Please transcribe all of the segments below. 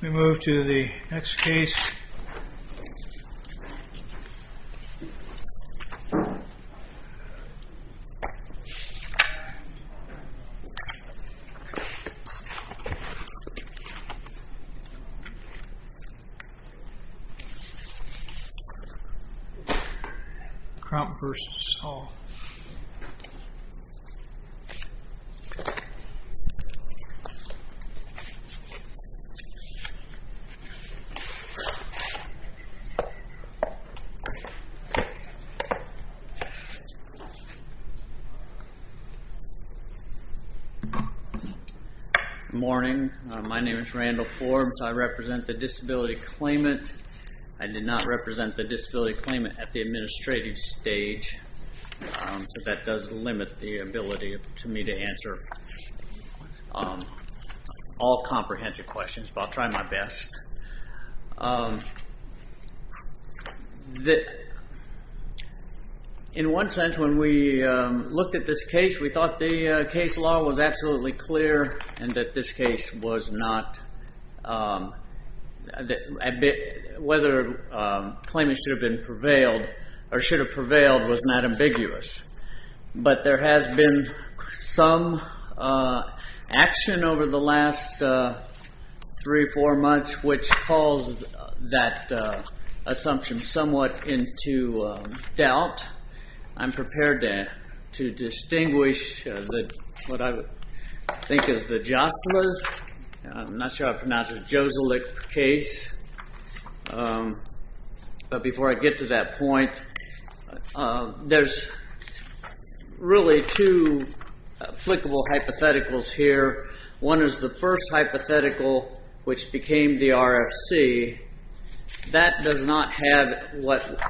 We move to the next case, Crump v. Saul. Good morning, my name is Randall Forbes, I represent the disability claimant, I did not limit the ability to me to answer all comprehensive questions, but I'll try my best. In one sense, when we looked at this case, we thought the case law was absolutely clear and that this but there has been some action over the last three, four months, which calls that assumption somewhat into doubt. I'm prepared to distinguish what I think is the Joselit case, but before I get to that point, there's really two applicable hypotheticals here. One is the first hypothetical, which became the RFC, that does not have what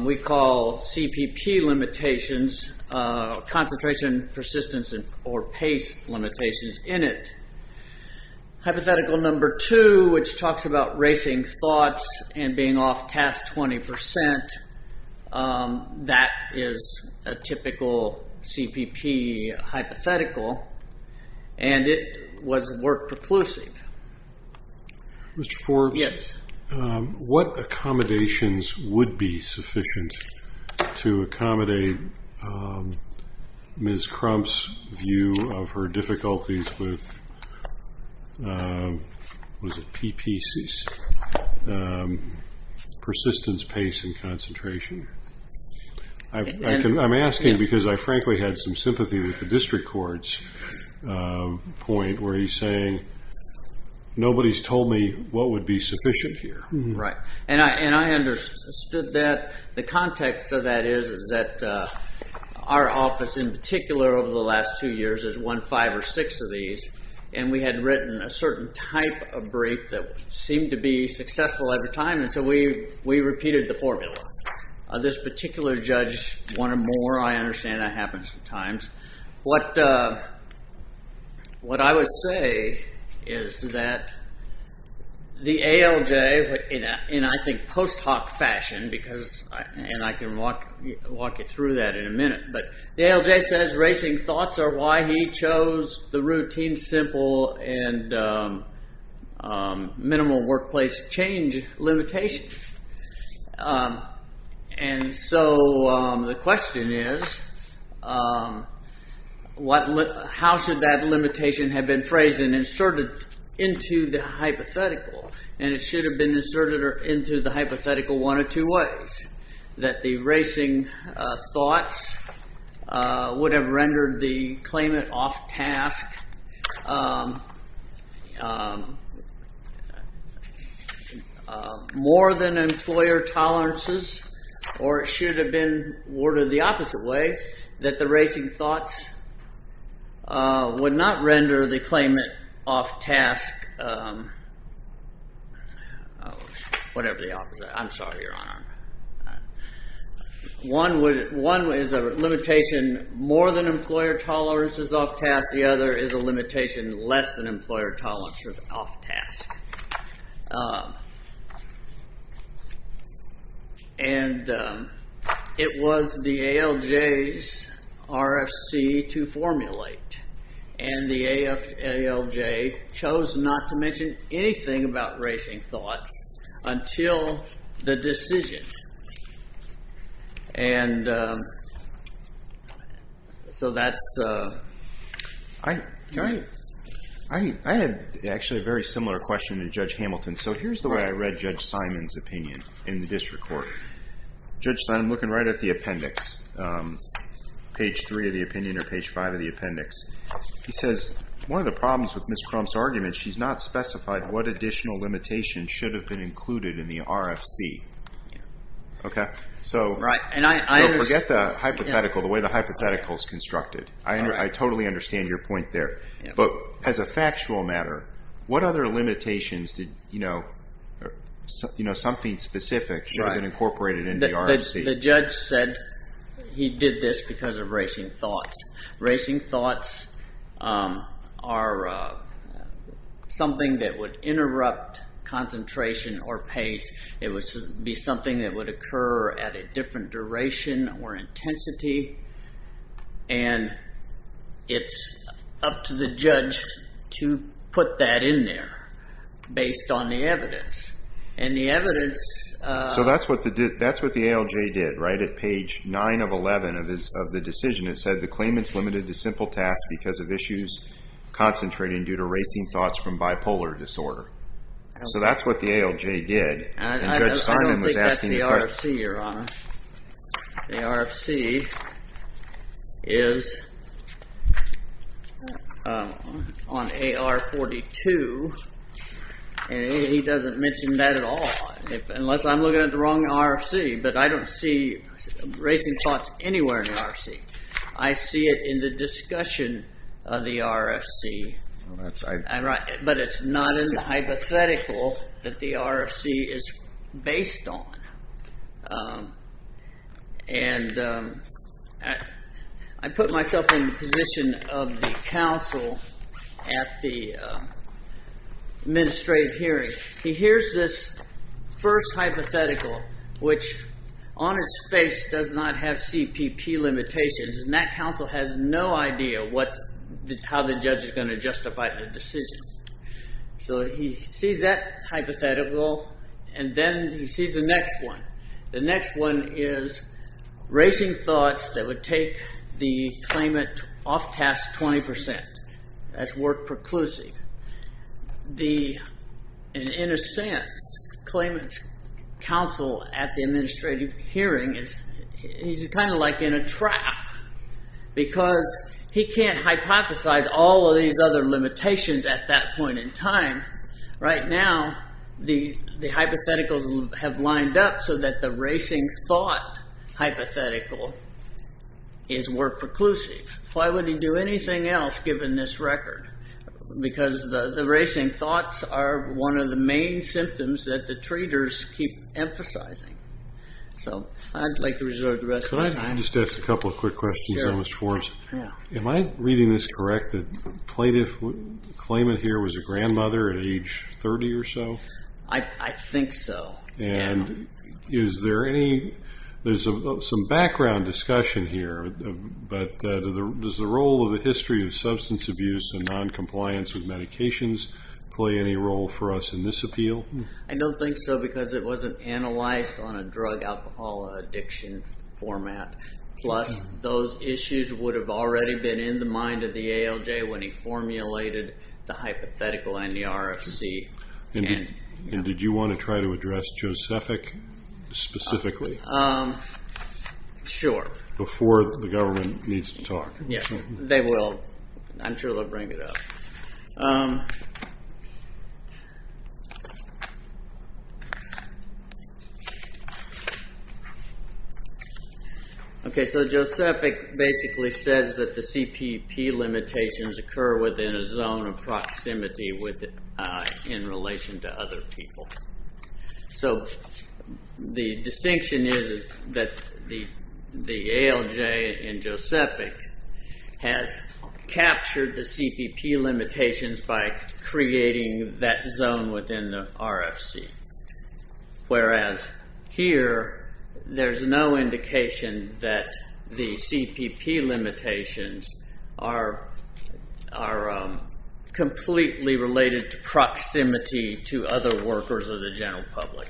we call CPP limitations, concentration persistence or pace limitations, in it. Hypothetical number two, which talks about racing thoughts and being off task 20%, that is a typical CPP hypothetical, and it was work preclusive. Mr. Forbes, what accommodations would be sufficient to accommodate Ms. Crump's view of her difficulties with PPCs, persistence, pace, and concentration? I'm asking because I frankly had some sympathy with the district court's point where he's saying, nobody's told me what would be sufficient here. Right, and I understood that the context of that is that our office in particular over the last two years has won five or six of these, and we had written a certain type of brief that seemed to be successful every time, and so we repeated the formula. This particular judge wanted more, I understand that happens sometimes. What I would say is that the ALJ, in I think post hoc fashion, and I can walk you through that in a minute, but the ALJ says racing thoughts are why he chose the routine, simple, and minimal workplace change limitations. The question is, how should that limitation have been phrased and inserted into the hypothetical, and it should have been inserted into the hypothetical one or two ways. That the rendered the claimant off task more than employer tolerances, or it should have been worded the opposite way, that the racing thoughts would not render the claimant off task, whatever the limitation. More than employer tolerances off task, the other is a limitation less than employer tolerances off task. And it was the ALJ's RFC to formulate, and the ALJ chose not to I had actually a very similar question to Judge Hamilton. So here's the way I read Judge Simon's opinion in the district court. Judge Simon, I'm looking right at the appendix, page three of the opinion or page five of the appendix. He says, one of the problems with Ms. Crump's argument, she's not specified what additional limitation should have been included in the RFC. So forget the hypothetical, the way the hypothetical is constructed. I totally understand your point there. But as a factual matter, what other limitations did, you know, something specific should have been incorporated in the RFC? The judge said he did this because of racing thoughts. Racing thoughts are something that would interrupt concentration or pace. It would be something that occur at a different duration or intensity. And it's up to the judge to put that in there based on the evidence. And the evidence... So that's what the ALJ did, right? At page nine of 11 of the decision, it said the claimant's limited to simple tasks because of issues concentrating due to racing thoughts from bipolar disorder. So that's what the ALJ did. And Judge Simon was the RFC, Your Honor. The RFC is on AR 42. And he doesn't mention that at all, unless I'm looking at the wrong RFC. But I don't see racing thoughts anywhere in the RFC. I see it in the discussion of the RFC. But it's not in the hypothetical that the RFC is based on. And I put myself in the position of the counsel at the administrative hearing. He hears this first hypothetical, which on its face does not have CPP limitations. And that counsel has no idea how the judge is going to justify the decision. So he sees that hypothetical. And then he sees the next one. The next one is racing thoughts that would take the claimant off task 20% as work preclusive. And in a sense, the claimant's counsel at the administrative hearing is kind of like in a trap because he can't hypothesize all of these other limitations at that point in time. Right now, the hypotheticals have lined up so that the racing thought hypothetical is work preclusive. Why would he do anything else given this record? Because the symptoms that the traders keep emphasizing. So I'd like to reserve the rest of my time. I just have a couple of quick questions. Am I reading this correct? The plaintiff, claimant here was a grandmother at age 30 or so? I think so. And is there any, there's some background discussion here. But does the role of the history of substance abuse and noncompliance with medications play any role for us in this appeal? I don't think so because it wasn't analyzed on a drug alcohol addiction format. Plus those issues would have already been in the mind of the ALJ when he formulated the hypothetical and the RFC. And did you want to try to address Josephic specifically? Sure. Before the government needs to talk. Yes, they will. I'm sure they'll bring it up. Okay, so Josephic basically says that the CPP limitations occur within a zone of proximity in relation to other people. So the distinction is that the ALJ and Josephic has captured the CPP limitations by creating that zone within the RFC. Whereas here, there's no indication that the CPP limitations are completely related to proximity to other workers of the general public.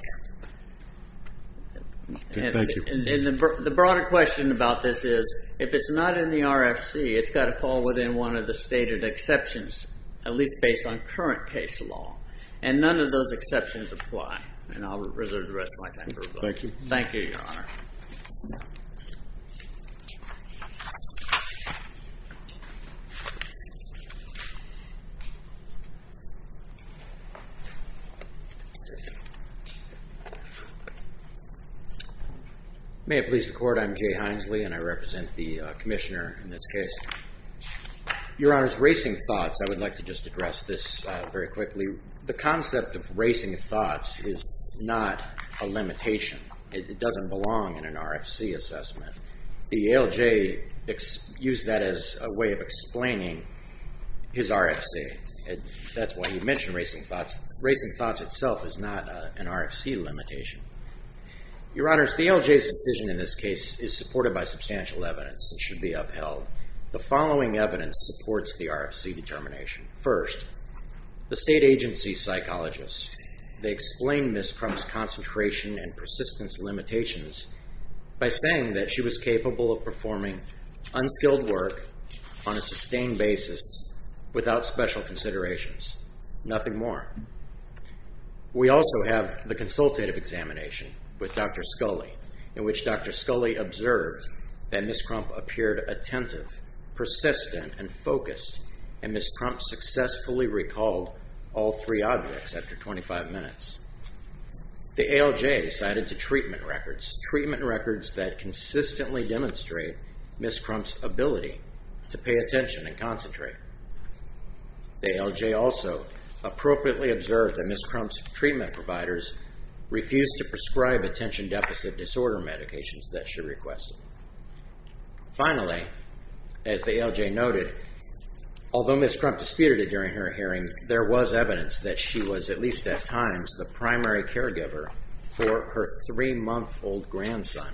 And the broader question about this is, if it's not in the RFC, it's got to fall within one of the stated exceptions, at least based on current case law. And none of those exceptions apply. And I'll reserve the rest of my time for rebuttal. Thank you. Thank you, Your Honor. May it please the Court, I'm Jay Hinesley and I represent the Commissioner in this case. Your Honor's racing thoughts, I would like to just address this very quickly. The concept of racing thoughts is not a limitation. It doesn't belong in an RFC assessment. The ALJ used that as a way of explaining his RFC. That's why you mentioned racing thoughts. Racing thoughts itself is not an RFC limitation. Your Honor, the ALJ's decision in this case is supported by substantial evidence that should be upheld. The following evidence supports the RFC determination. First, the state agency psychologists. They explained Ms. Crump's concentration and persistence limitations by saying that she was capable of performing unskilled work on a sustained basis without special considerations. Nothing more. We also have the consultative examination with Dr. Scully, in which Dr. Scully observed that Ms. Crump appeared attentive, persistent, and focused, and Ms. Crump successfully recalled all three objects after 25 minutes. The ALJ cited to treatment records, treatment records that consistently demonstrate Ms. Crump's ability to pay attention and concentrate. The ALJ also appropriately observed that Ms. Crump's treatment providers refused to prescribe attention deficit disorder medications that she requested. Finally, as the ALJ noted, although Ms. Crump disputed it during her hearing, there was evidence that she was, at least at times, the primary caregiver for her three-month-old grandson.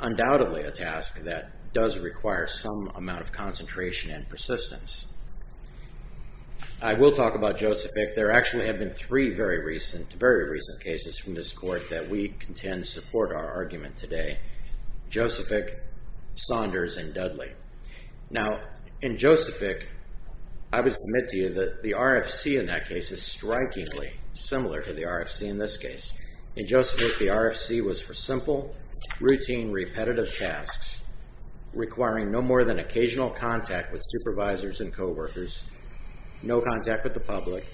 Undoubtedly a task that does require some amount of concentration and persistence. I will talk about Joseph Fick. There actually have been three very recent cases from this court that we contend support our argument today. Joseph Fick, Saunders, and Dudley. Now, in Joseph Fick, I would submit to you that the RFC in that case is strikingly similar to the RFC in this case. In Joseph Fick, the RFC was for simple, routine, repetitive tasks requiring no more than occasional contact with supervisors and co-workers, no contact with the public,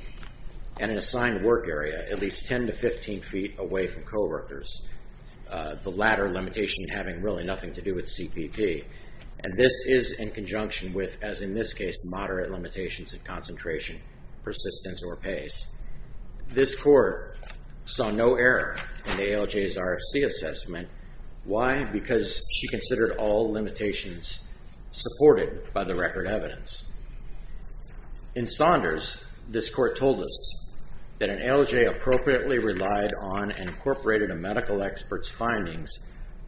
and an assigned work area at least 10 to 15 feet away from co-workers. The latter limitation having really nothing to do with CPT. And this is in conjunction with, as in this case, moderate limitations of concentration, persistence, or pace. This court saw no error in the ALJ's RFC assessment. Why? Because she considered all limitations supported by the record evidence. In Saunders, this court told us that an ALJ appropriately relied on and incorporated a medical expert's findings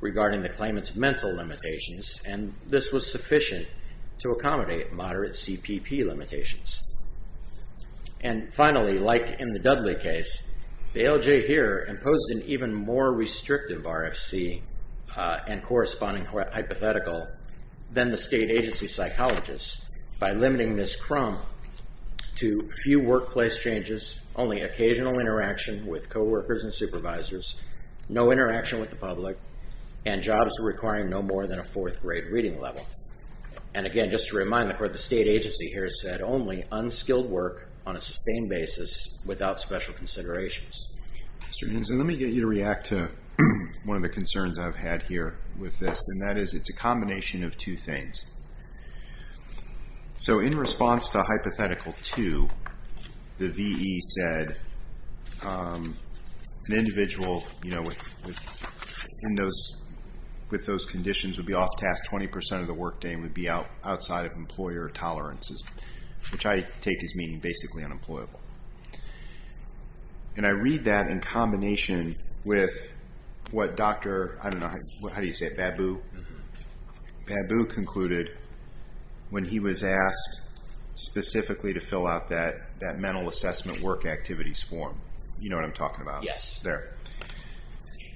regarding the claimant's mental limitations, and this was sufficient to accommodate moderate CPP limitations. And finally, like in the Dudley case, the ALJ here imposed an even more restrictive RFC and corresponding hypothetical than the state agency psychologist by limiting this crumb to few workplace changes, only occasional interaction with co-workers and supervisors, no interaction with the public, and jobs requiring no more than a fourth grade reading level. And again, just to remind the court, the state agency here said only unskilled work on a sustained basis without special considerations. Mr. Hanson, let me get you to react to one of the concerns I've had here with this, and that is it's a combination of two things. So in response to hypothetical two, the VE said an individual with those conditions would be off task 20% of the workday and would be outside of employer tolerances, which I take as meaning what Dr., I don't know, how do you say it, Babu? Babu concluded when he was asked specifically to fill out that mental assessment work activities form, you know what I'm talking about? Yes. There.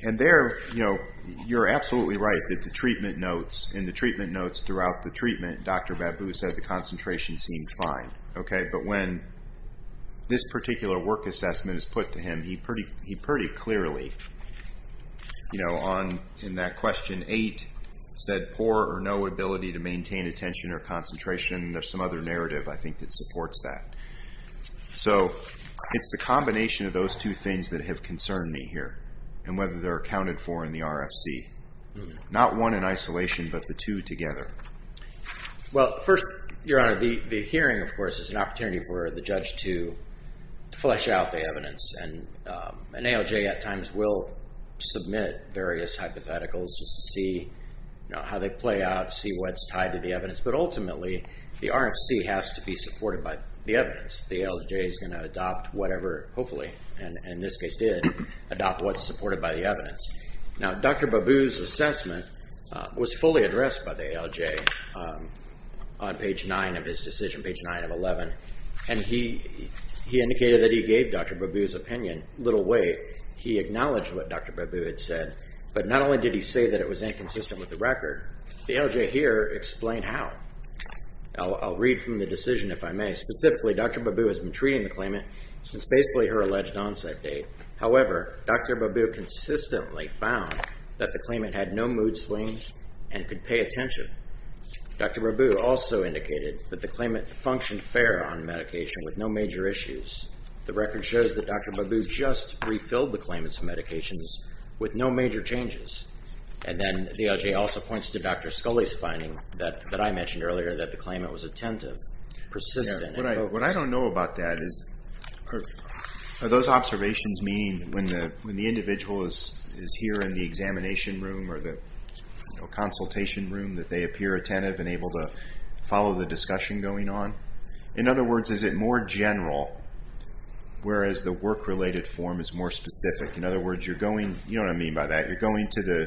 And there, you know, you're absolutely right that the treatment notes, in the treatment notes throughout the treatment, Dr. Babu said the concentration seemed fine, okay? But when this particular work assessment is put to him, he pretty clearly you know, in that question eight said poor or no ability to maintain attention or concentration. There's some other narrative I think that supports that. So it's the combination of those two things that have concerned me here and whether they're accounted for in the RFC, not one in isolation, but the two together. Well, first, your honor, the hearing, of course, is an opportunity for the judge to flesh out the evidence and an ALJ at times will submit various hypotheticals just to see how they play out, see what's tied to the evidence. But ultimately, the RFC has to be supported by the evidence. The ALJ is going to adopt whatever, hopefully, and in this case did, adopt what's supported by the evidence. Now, Dr. Babu's assessment was fully addressed by the ALJ on page 9 of his decision, page 9 of 11, and he indicated that he gave Dr. Babu's opinion, little weight. He acknowledged what Dr. Babu had said, but not only did he say that it was inconsistent with the record, the ALJ here explained how. I'll read from the decision, if I may. Specifically, Dr. Babu has been treating the claimant since basically her alleged onset date. However, Dr. Babu consistently found that the claimant had no mood swings and could pay attention. Dr. Babu also indicated that the claimant functioned fair on medication with no major issues. The record shows that Dr. Babu just refilled the claimant's medications with no major changes. And then the ALJ also points to Dr. Scully's finding that I mentioned earlier that the claimant was attentive, persistent. What I don't know about that is, are those observations meaning when the individual is here in the examination room or the consultation room that they appear attentive and able to follow the discussion going on? In other words, is it more general, whereas the work-related form is more specific? In other words, you're going, you know what I mean by that, you're going to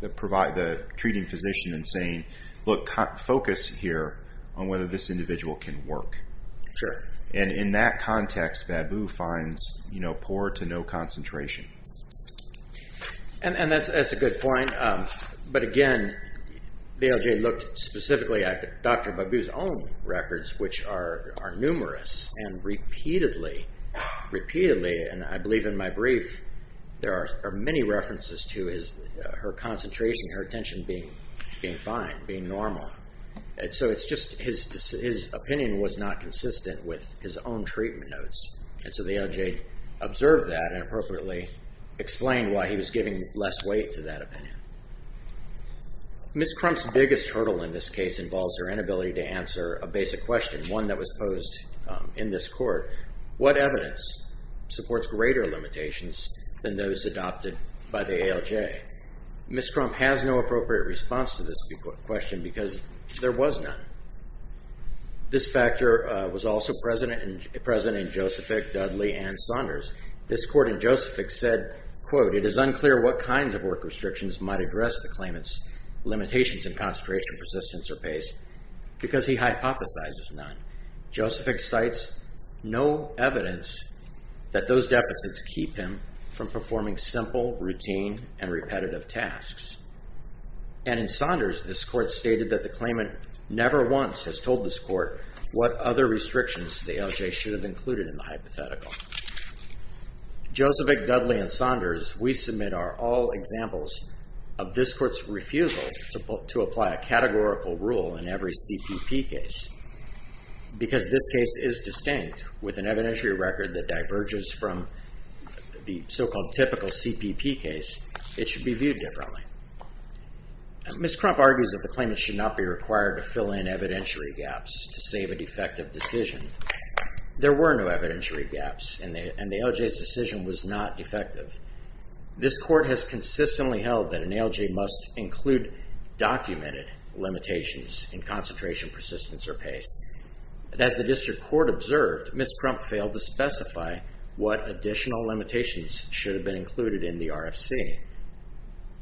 the treating physician and saying, look, focus here on whether this individual can work. And in that context, Babu finds poor to concentration. And that's a good point. But again, the ALJ looked specifically at Dr. Babu's own records, which are numerous and repeatedly, and I believe in my brief, there are many references to her concentration, her attention being fine, being normal. And so it's just his opinion was not inappropriately explained why he was giving less weight to that opinion. Ms. Crump's biggest hurdle in this case involves her inability to answer a basic question, one that was posed in this court. What evidence supports greater limitations than those adopted by the ALJ? Ms. Crump has no appropriate response to this question because there was none. This court in Josephic said, quote, it is unclear what kinds of work restrictions might address the claimant's limitations in concentration, persistence, or pace because he hypothesizes none. Josephic cites no evidence that those deficits keep him from performing simple, routine, and repetitive tasks. And in Saunders, this court stated that the claimant never once has told this court what other restrictions the ALJ should have included in the hypothetical. Josephic, Dudley, and Saunders, we submit are all examples of this court's refusal to apply a categorical rule in every CPP case. Because this case is distinct with an evidentiary record that diverges from the so-called typical CPP case, it should be viewed differently. Ms. Crump argues that the claimant should not be required to fill in evidentiary gaps to save a defective decision. There were no evidentiary gaps and the ALJ's decision was not effective. This court has consistently held that an ALJ must include documented limitations in concentration, persistence, or pace. But as the district court observed, Ms. Crump failed to specify what additional limitations should have been included in the RFC.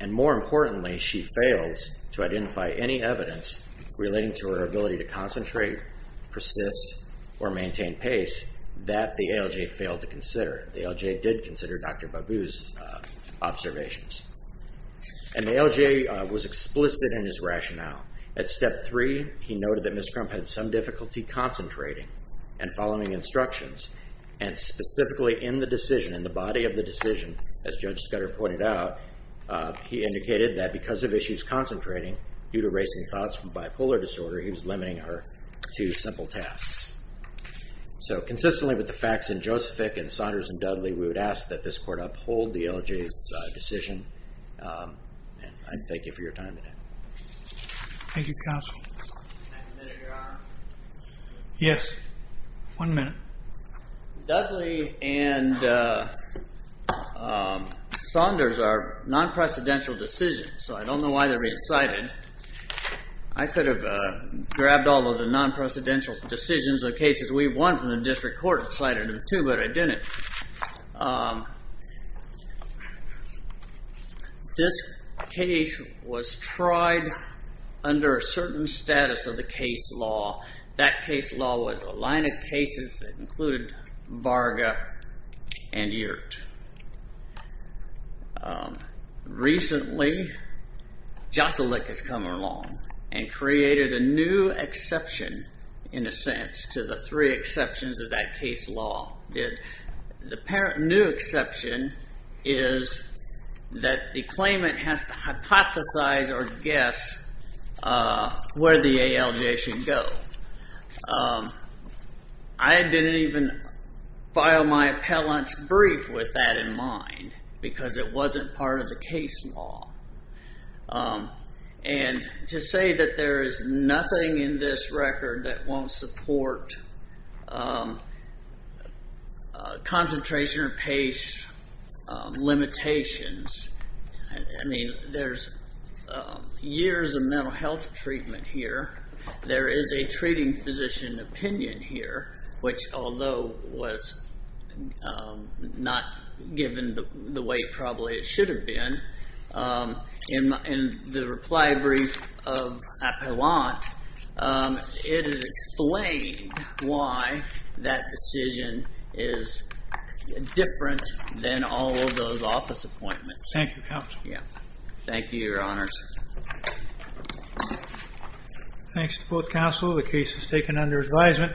And more importantly, she fails to identify any evidence relating to her ability to concentrate, persist, or maintain pace that the ALJ failed to consider. The ALJ did consider Dr. Bagoo's observations. And the ALJ was explicit in his rationale. At step three, he noted that Ms. Crump had some difficulty concentrating and following instructions. And specifically in the decision, in the body of the issues concentrating, due to racing thoughts from bipolar disorder, he was limiting her to simple tasks. So consistently with the facts in Josephick and Saunders and Dudley, we would ask that this court uphold the ALJ's decision. And I thank you for your time today. Thank you, counsel. Can I have a minute, Your Honor? Yes. One minute. Dudley and Saunders are non-precedential decisions, so I don't know why they're being cited. I could have grabbed all of the non-precedential decisions of cases we've won from the district court and cited them too, but I didn't. This case was tried under a certain status of the case law. That case law was a line of cases that included Varga and Yurt. Recently, Josephick has come along and created a new exception, in a sense, to the three exceptions that that case law did. And that case law was a line of the parent new exception is that the claimant has to hypothesize or guess where the ALJ should go. I didn't even file my appellant's brief with that in mind because it wasn't part of the case law. And to say that there is nothing in this record that won't support concentration or pace limitations, I mean, there's years of mental health treatment here. There is a treating physician opinion here, which although was not given the way it probably should have been, in the reply brief of appellant, it is explained why that decision is different than all of those office appointments. Thank you, counsel. Thank you, your honor. Thanks to both counsel. The case is taken under advisement.